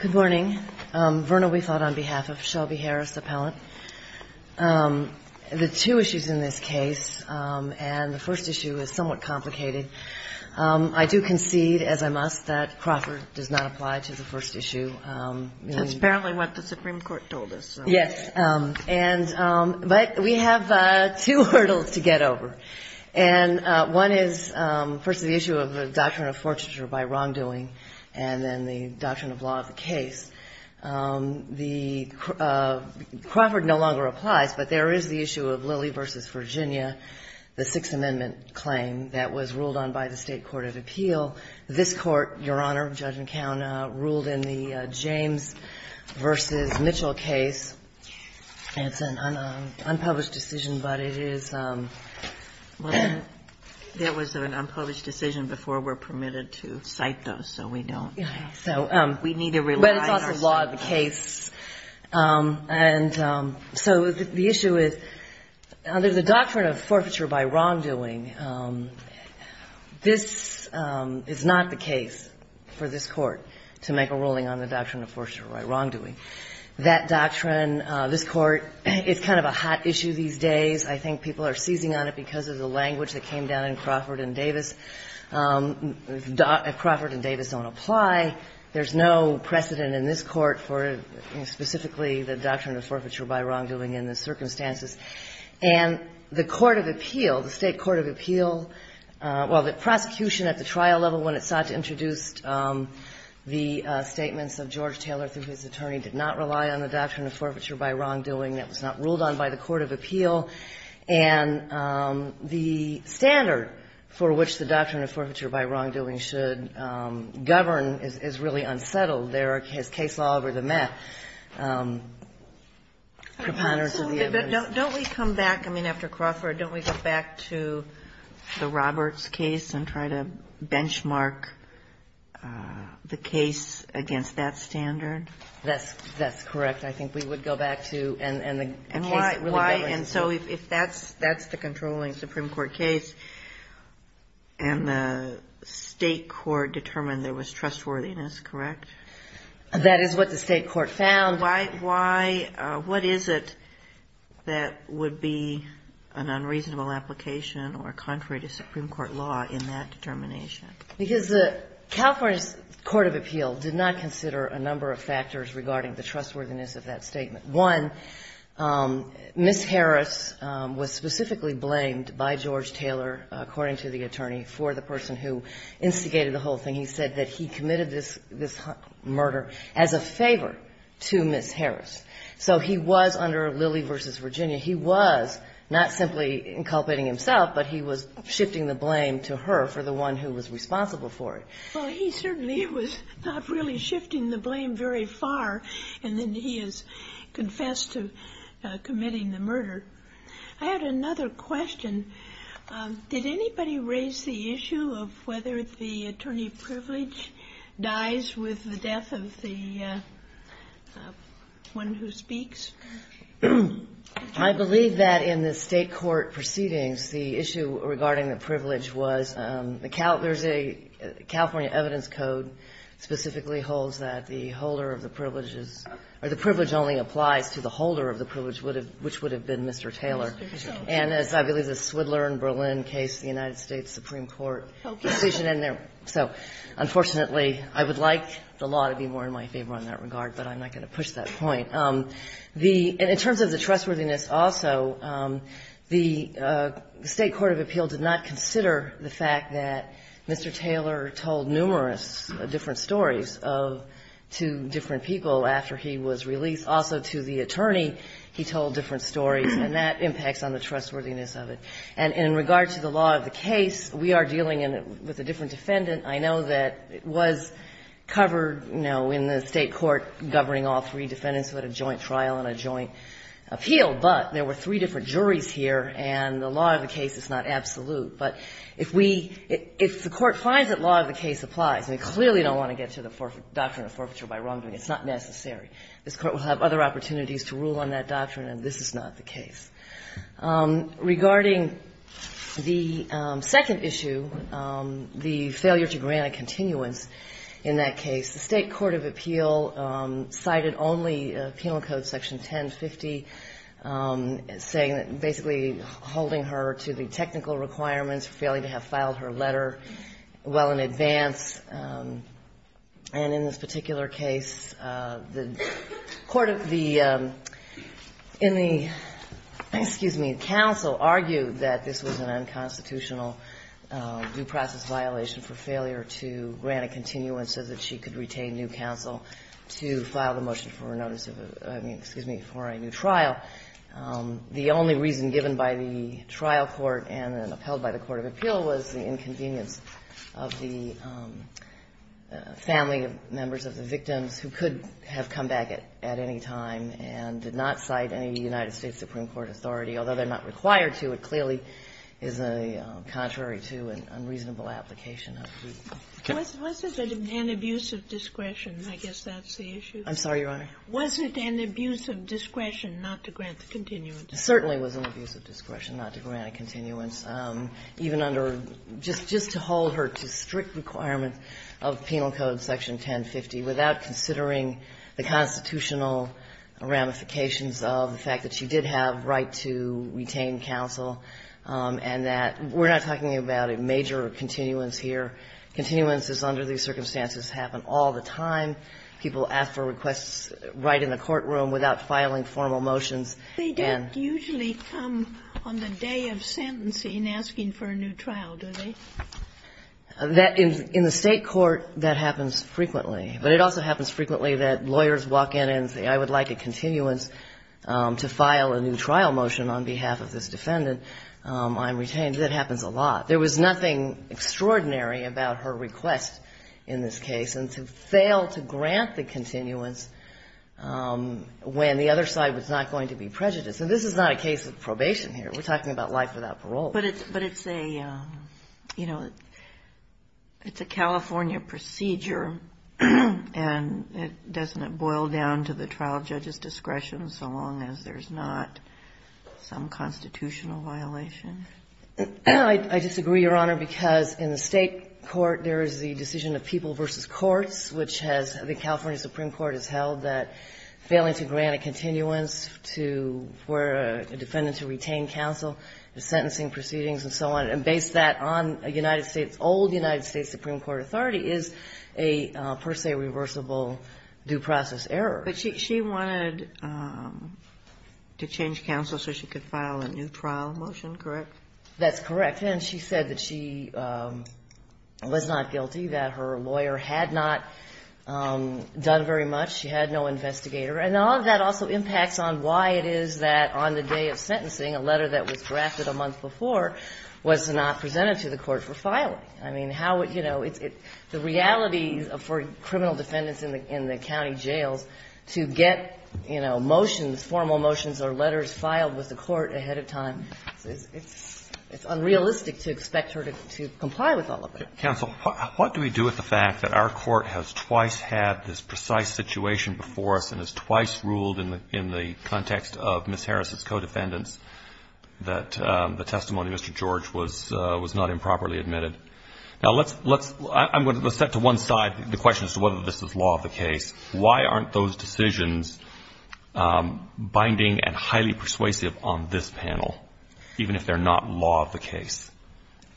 Good morning, Verna Weifold on behalf of Shelby Harris Appellant. The two issues in this case, and the first issue is somewhat complicated, I do concede, as I must, that Crawford does not apply to the first issue. Kagan That's apparently what the Supreme Court told us. HENRY Yes. And but we have two hurdles to get over. And one is, first, the issue of the doctrine of fortitude by wrongdoing, and then the doctrine of law of the case. Crawford no longer applies, but there is the issue of Lilly v. Virginia, the Sixth Amendment claim that was ruled on by the State Court of Appeal. This Court, Your Honor, Judge McCown, ruled in the James v. Mitchell case, and it's an unpublished decision, but it is – GINSBURG Well, there was an unpublished decision before we're permitted to cite those, so we don't – HENRY So – GINSBURG We need to rely on – And so the issue is, under the doctrine of forfeiture by wrongdoing, this is not the case for this Court to make a ruling on the doctrine of forfeiture by wrongdoing. That doctrine, this Court – it's kind of a hot issue these days. I think people are seizing on it because of the language that came down in Crawford and Davis. If Crawford and Davis don't apply, there's no precedent in this Court for specifically the doctrine of forfeiture by wrongdoing in the circumstances. And the Court of Appeal, the State Court of Appeal – well, the prosecution at the trial level, when it sought to introduce the statements of George Taylor, through his attorney, did not rely on the doctrine of forfeiture by wrongdoing. That was not ruled on by the Court of Appeal. And the standard for which the doctrine of forfeiture by wrongdoing should govern is really unsettled. There is case law over the mat. Don't we come back – I mean, after Crawford, don't we go back to the Roberts case and try to benchmark the case against that standard? That's correct. I think we would go back to – and the case really governs the case. And why – and so if that's the controlling Supreme Court case, and the State Court determined there was trustworthiness, correct? That is what the State Court found. Why – what is it that would be an unreasonable application or contrary to Supreme Court law in that determination? Because the California Court of Appeal did not consider a number of factors regarding the trustworthiness of that statement. One, Ms. Harris was specifically blamed by George Taylor, according to the attorney, for the person who instigated the whole thing. He said that he committed this murder as a favor to Ms. Harris. So he was under Lilly v. Virginia. He was not simply inculpating himself, but he was shifting the blame to her for the one who was responsible for it. Well, he certainly was not really shifting the blame very far, and then he has confessed to committing the murder. I had another question. Did anybody raise the issue of whether the attorney of privilege dies with the death of the one who speaks? I believe that in the State Court proceedings, the issue regarding the privilege was – there's a California evidence code specifically holds that the holder of the privilege is – or the privilege only applies to the holder of the privilege, which would have been Mr. Taylor. And as I believe the Swidler in Berlin case, the United States Supreme Court decision in there. So unfortunately, I would like the law to be more in my favor in that regard, but I'm not going to push that point. The – and in terms of the trustworthiness also, the State Court of Appeal did not consider the fact that Mr. Taylor told numerous different stories of two different people after he was released. Also, to the attorney, he told different stories, and that impacts on the trustworthiness of it. And in regard to the law of the case, we are dealing with a different defendant. I know that it was covered in the State Court governing all three defendants who had a joint trial and a joint appeal, but there were three different juries here, and the law of the case is not absolute. But if we – if the Court finds that law of the case applies, and we clearly don't want to get to the doctrine of forfeiture by wrongdoing, it's not necessary. This Court will have other opportunities to rule on that doctrine, and this is not the case. Regarding the second issue, the failure to grant a continuance in that case, the State Court of Appeal cited only Penal Code Section 1050, saying – basically holding her to the technical requirements, failing to have filed her letter well in advance. And in this particular case, the Court of the – in the – excuse me, counsel argued that this was an unconstitutional due process violation for failure to grant a continuance so that she could retain new counsel to file the motion for a notice of – I mean, excuse me, for a new trial. The only reason given by the trial court and upheld by the Court of Appeal was the inconvenience of the family members of the victims who could have come back at any time and did not cite any United States Supreme Court authority, although they're not required to. It clearly is contrary to an unreasonable application of the – Was it an abuse of discretion? I guess that's the issue. I'm sorry, Your Honor. Was it an abuse of discretion not to grant the continuance? It certainly was an abuse of discretion not to grant a continuance. Even under – just to hold her to strict requirement of Penal Code Section 1050 without considering the constitutional ramifications of the fact that she did have right to retain counsel and that we're not talking about a major continuance here. Continuances under these circumstances happen all the time. People ask for requests right in the courtroom without filing formal motions. They don't usually come on the day of sentencing asking for a new trial, do they? In the State court, that happens frequently. But it also happens frequently that lawyers walk in and say, I would like a continuance to file a new trial motion on behalf of this defendant. I'm retained. That happens a lot. There was nothing extraordinary about her request in this case. And to fail to grant the continuance when the other side was not going to be prejudiced. And this is not a case of probation here. We're talking about life without parole. But it's a, you know, it's a California procedure. And doesn't it boil down to the trial judge's discretion so long as there's not some constitutional violation? I disagree, Your Honor, because in the State court, there is the decision of people versus courts, which has the California Supreme Court has held that failing to grant a continuance to where a defendant to retain counsel, the sentencing proceedings and so on, and base that on a United States, old United States Supreme Court authority, is a per se reversible due process error. But she wanted to change counsel so she could file a new trial motion, correct? That's correct. And back then, she said that she was not guilty, that her lawyer had not done very much. She had no investigator. And all of that also impacts on why it is that on the day of sentencing, a letter that was drafted a month before was not presented to the court for filing. I mean, how, you know, the reality for criminal defendants in the county jails to get, you know, motions, formal motions or letters filed with the court ahead of time. It's unrealistic to expect her to comply with all of that. Counsel, what do we do with the fact that our court has twice had this precise situation before us and has twice ruled in the context of Ms. Harris' co-defendants that the testimony of Mr. George was not improperly admitted? Now, let's set to one side the question as to whether this is law of the case. Why aren't those decisions binding and highly persuasive on this panel? Even if they're not law of the case.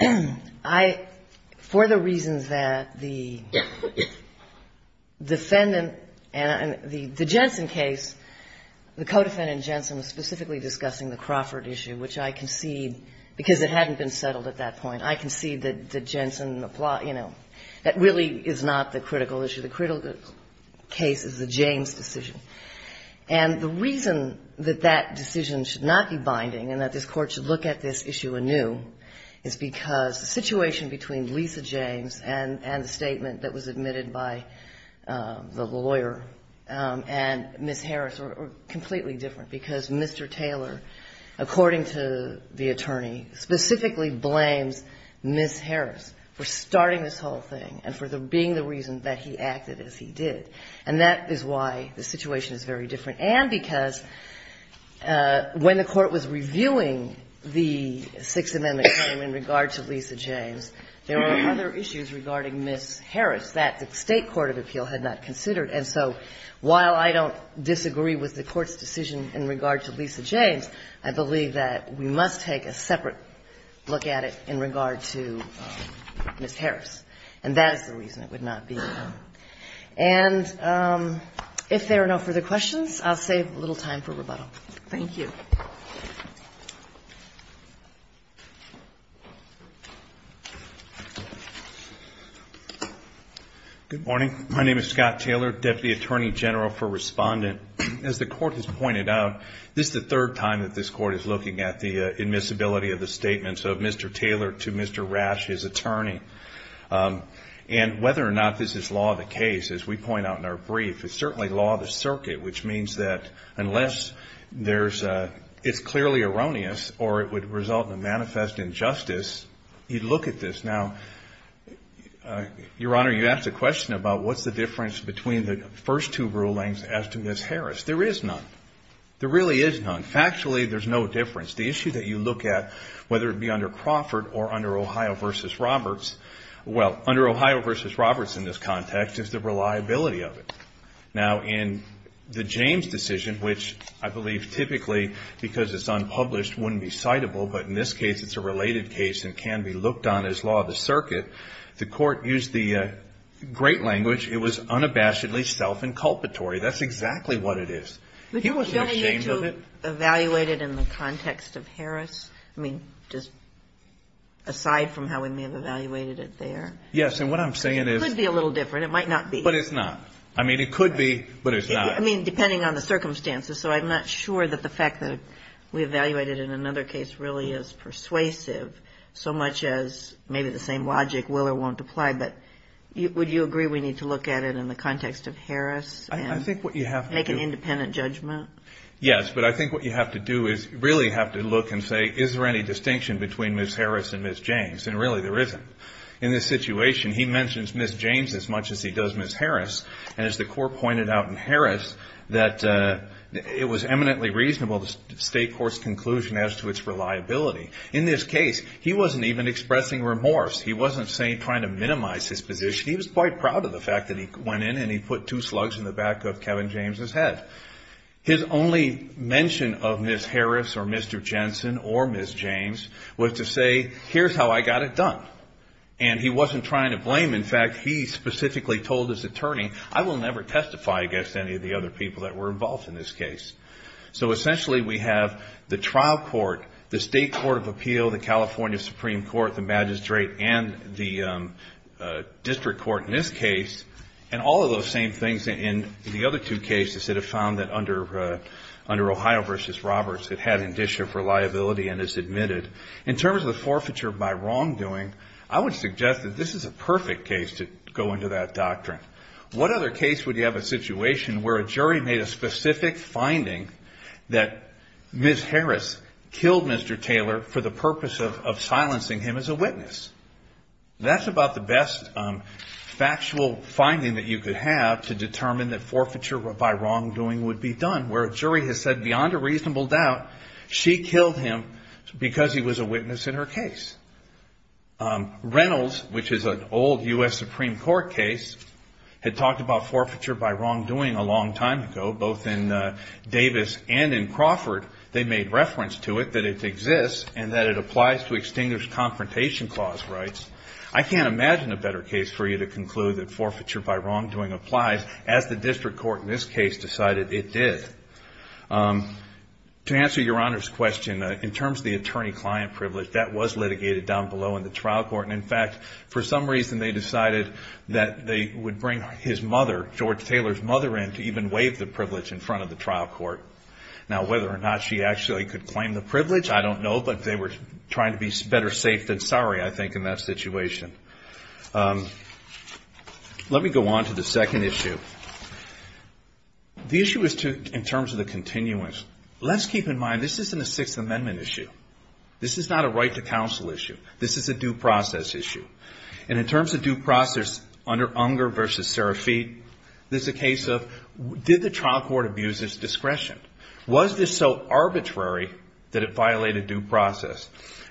I, for the reasons that the defendant and the Jensen case, the co-defendant Jensen was specifically discussing the Crawford issue, which I concede, because it hadn't been settled at that point. I concede that the Jensen, you know, that really is not the critical issue. The critical case is the James decision. And the reason that that decision should not be binding and that this court should look at this issue anew is because the situation between Lisa James and the statement that was admitted by the lawyer and Ms. Harris are completely different because Mr. Taylor, according to the attorney, specifically blames Ms. Harris for starting this whole thing and for being the reason that he acted as he did. And that is why the situation is very different. And because when the court was reviewing the Sixth Amendment claim in regard to Lisa James, there were other issues regarding Ms. Harris that the State court of appeal had not considered. And so while I don't disagree with the court's decision in regard to Lisa James, I believe that we must take a separate look at it in regard to Ms. Harris. And that is the reason it would not be. And if there are no further questions, I'll save a little time for rebuttal. Thank you. Good morning. My name is Scott Taylor, Deputy Attorney General for Respondent. As the court has pointed out, this is the third time that this court is looking at the admissibility of the statements of Mr. Taylor to Mr. Rash, his attorney. And whether or not this is law of the case, as we point out in our brief, it's certainly law of the circuit, which means that unless it's clearly erroneous or it would result in a manifest injustice, you'd look at this. Now, Your Honor, you asked a question about what's the difference between the first two rulings as to Ms. Harris. There is none. There really is none. Factually, there's no difference. The issue that you look at, whether it be under Crawford or under Ohio v. Roberts, well, under Ohio v. Roberts in this context is the reliability of it. Now, in the James decision, which I believe typically, because it's unpublished, wouldn't be citable. But in this case, it's a related case and can be looked on as law of the circuit. The court used the great language. It was unabashedly self-inculpatory. That's exactly what it is. He wasn't ashamed of it. Would you evaluate it in the context of Harris? I mean, just aside from how we may have evaluated it there. Yes. And what I'm saying is. It could be a little different. It might not be. But it's not. I mean, it could be, but it's not. I mean, depending on the circumstances. So I'm not sure that the fact that we evaluated it in another case really is persuasive so much as maybe the same logic will or won't apply. But would you agree we need to look at it in the context of Harris? I think what you have to do. Make an independent judgment? Yes. But I think what you have to do is really have to look and say, is there any distinction between Ms. Harris and Ms. James? And really, there isn't. In this situation, he mentions Ms. James as much as he does Ms. Harris. And as the court pointed out in Harris, that it was eminently reasonable the state court's conclusion as to its reliability. In this case, he wasn't even expressing remorse. He wasn't trying to minimize his position. He was quite proud of the fact that he went in and he put two slugs in the back of Kevin James' head. His only mention of Ms. Harris or Mr. Jensen or Ms. James was to say, here's how I got it done. And he wasn't trying to blame. In fact, he specifically told his attorney, I will never testify against any of the other people that were involved in this case. So essentially, we have the trial court, the state court of appeal, the California Supreme Court, the magistrate, and the district court in this case, and all of those same things in the other two cases that have found that under Ohio v. Roberts, it had indicia for liability and is admitted. In terms of the forfeiture by wrongdoing, I would suggest that this is a perfect case to go into that doctrine. What other case would you have a situation where a jury made a specific finding that Ms. Harris killed Mr. Taylor for the purpose of silencing him as a witness? That's about the best factual finding that you could have to determine that forfeiture by wrongdoing would be done, where a jury has said beyond a reasonable doubt, she killed him because he was a witness in her case. Reynolds, which is an old U.S. Supreme Court case, had talked about forfeiture by wrongdoing a long time ago, both in Davis and in Crawford. They made reference to it, that it exists, and that it applies to extinguished confrontation clause rights. I can't imagine a better case for you to conclude that forfeiture by wrongdoing applies, as the district court in this case decided it did. To answer Your Honor's question, in terms of the attorney-client privilege, that was litigated down below in the trial court, and in fact, for some reason, they decided that they would bring his mother, George Taylor's mother, in to even waive the privilege in front of the trial court. Now, whether or not she actually could claim the privilege, I don't know, but they were trying to be better safe than sorry, I think, in that situation. Let me go on to the second issue. The issue is in terms of the continuance. Let's keep in mind, this isn't a Sixth Amendment issue. This is not a right to counsel issue. This is a due process issue. And in terms of due process under Unger v. Serafit, this is a case of, did the trial court abuse its discretion? Was this so arbitrary that it violated due process?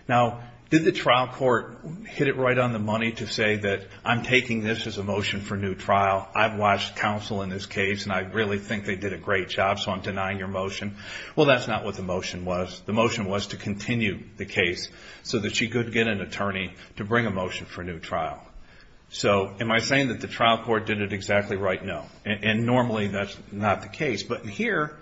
Now, did the trial court hit it right on the money to say that I'm taking this as a motion for new trial, I've watched counsel in this case, and I really think they did a great job, so I'm denying your motion? Well, that's not what the motion was. The motion was to continue the case so that she could get an attorney to bring a motion for a new trial. So, am I saying that the trial court did it exactly right? No. And normally, that's not the case. But here,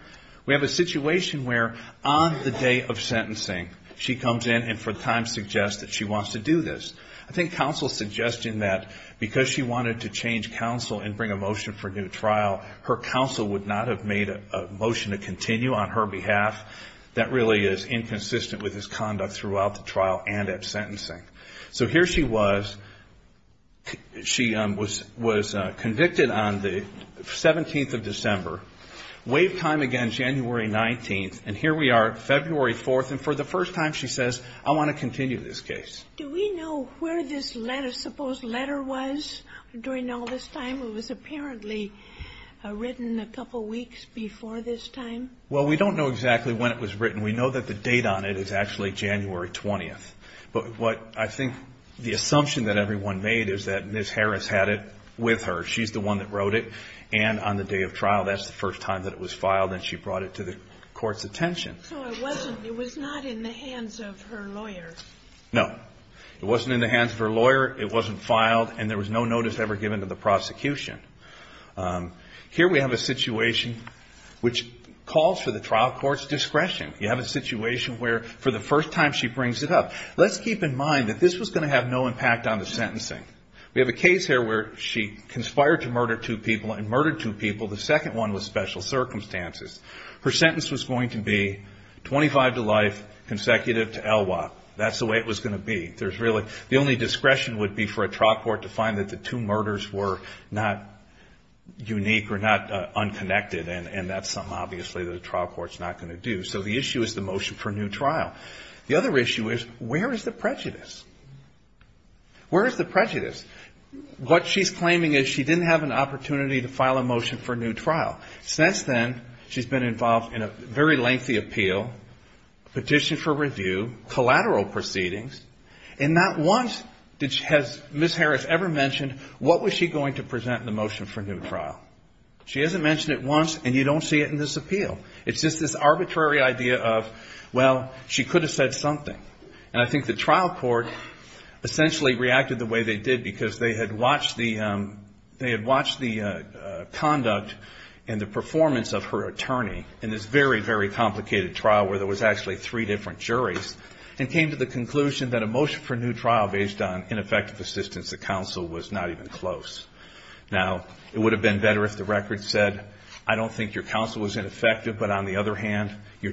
we have a situation where on the day of sentencing, she comes in and for the time suggests that she wants to do this. I think counsel's suggesting that because she wanted to change counsel and bring a motion for a new trial, her counsel would not have made a motion to continue on her behalf. That really is inconsistent with his conduct throughout the trial and at sentencing. So here she was. She was convicted on the 17th of December. Waive time again, January 19th. And here we are, February 4th, and for the first time, she says, I want to continue this case. Do we know where this letter, supposed letter was during all this time? It was apparently written a couple weeks before this time. Well, we don't know exactly when it was written. We know that the date on it is actually January 20th. But what I think the assumption that everyone made is that Ms. Harris had it with her. She's the one that wrote it. And on the day of trial, that's the first time that it was filed and she brought it to the court's attention. So it wasn't, it was not in the hands of her lawyer. No. It wasn't in the hands of her lawyer, it wasn't filed, and there was no notice ever given to the prosecution. Here we have a situation which calls for the trial court's discretion. You have a situation where for the first time she brings it up. Let's keep in mind that this was going to have no impact on the sentencing. We have a case here where she conspired to murder two people and murdered two people. The second one was special circumstances. Her sentence was going to be 25 to life, consecutive to Elwha. That's the way it was going to be. The only discretion would be for a trial court to find that the two murders were not unique or not unconnected and that's something obviously that a trial court's not going to do. So the issue is the motion for a new trial. The other issue is where is the prejudice? Where is the prejudice? What she's claiming is she didn't have an opportunity to file a motion for a new trial. Since then, she's been involved in a very lengthy appeal, petition for review, collateral proceedings, and not once has Ms. Harris ever mentioned what was she going to present in the motion for a new trial. She hasn't mentioned it once and you don't see it in this appeal. It's just this arbitrary idea of, well, she could have said something. And I think the trial court essentially reacted the way they did because they had watched the conduct and the performance of her attorney in this very, very complicated trial where there was actually three different juries and came to the conclusion that a motion for a new trial based on ineffective assistance to counsel was not even close. Now, it would have been better if the record said, I don't think your counsel was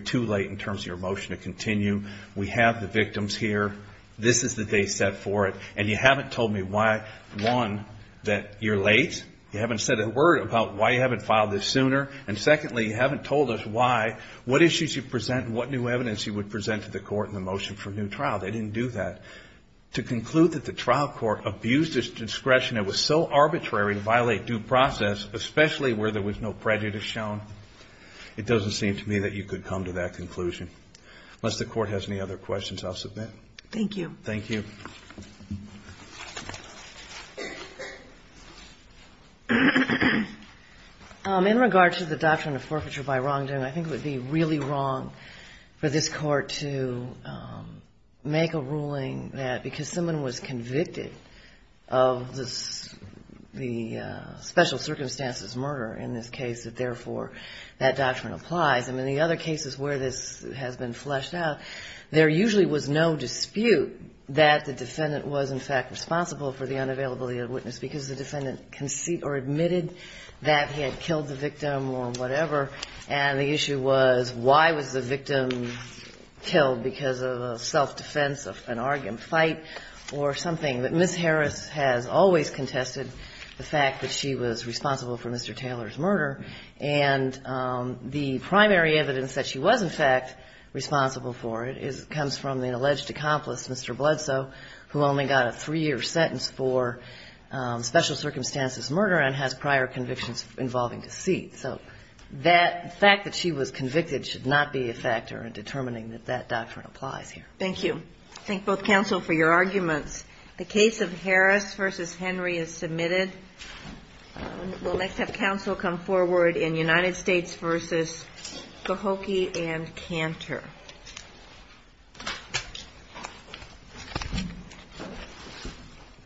too late in terms of your motion to continue. We have the victims here. This is the date set for it. And you haven't told me why, one, that you're late. You haven't said a word about why you haven't filed this sooner. And secondly, you haven't told us why, what issues you present and what new evidence you would present to the court in the motion for a new trial. They didn't do that. To conclude that the trial court abused its discretion, it was so arbitrary to violate due process, especially where there was no prejudice shown, it doesn't seem to me that you could come to that conclusion. Unless the court has any other questions, I'll submit. Thank you. Thank you. In regard to the doctrine of forfeiture by wrongdoing, I think it would be really wrong for this Court to make a ruling that because someone was convicted of the special circumstances murder in this case, that therefore that doctrine applies. And in the other cases where this has been fleshed out, there usually was no dispute that the defendant was in fact responsible for the unavailability of witness because the defendant conceded or admitted that he had killed the victim or whatever, and the issue was why was the victim killed because of a self-defense, an argument, fight, or something. But Ms. Harris has always contested the fact that she was responsible for Mr. Taylor's murder, and the primary evidence that she was in fact responsible for it comes from the alleged accomplice Mr. Bledsoe, who only got a three-year sentence for special circumstances murder and has prior convictions involving deceit. So that fact that she was convicted should not be a factor in determining that that doctrine applies here. Thank you. I thank both counsel for your arguments. The case of Harris v. Henry is submitted. We'll next have counsel come forward in United States v. Cahokia and Cantor.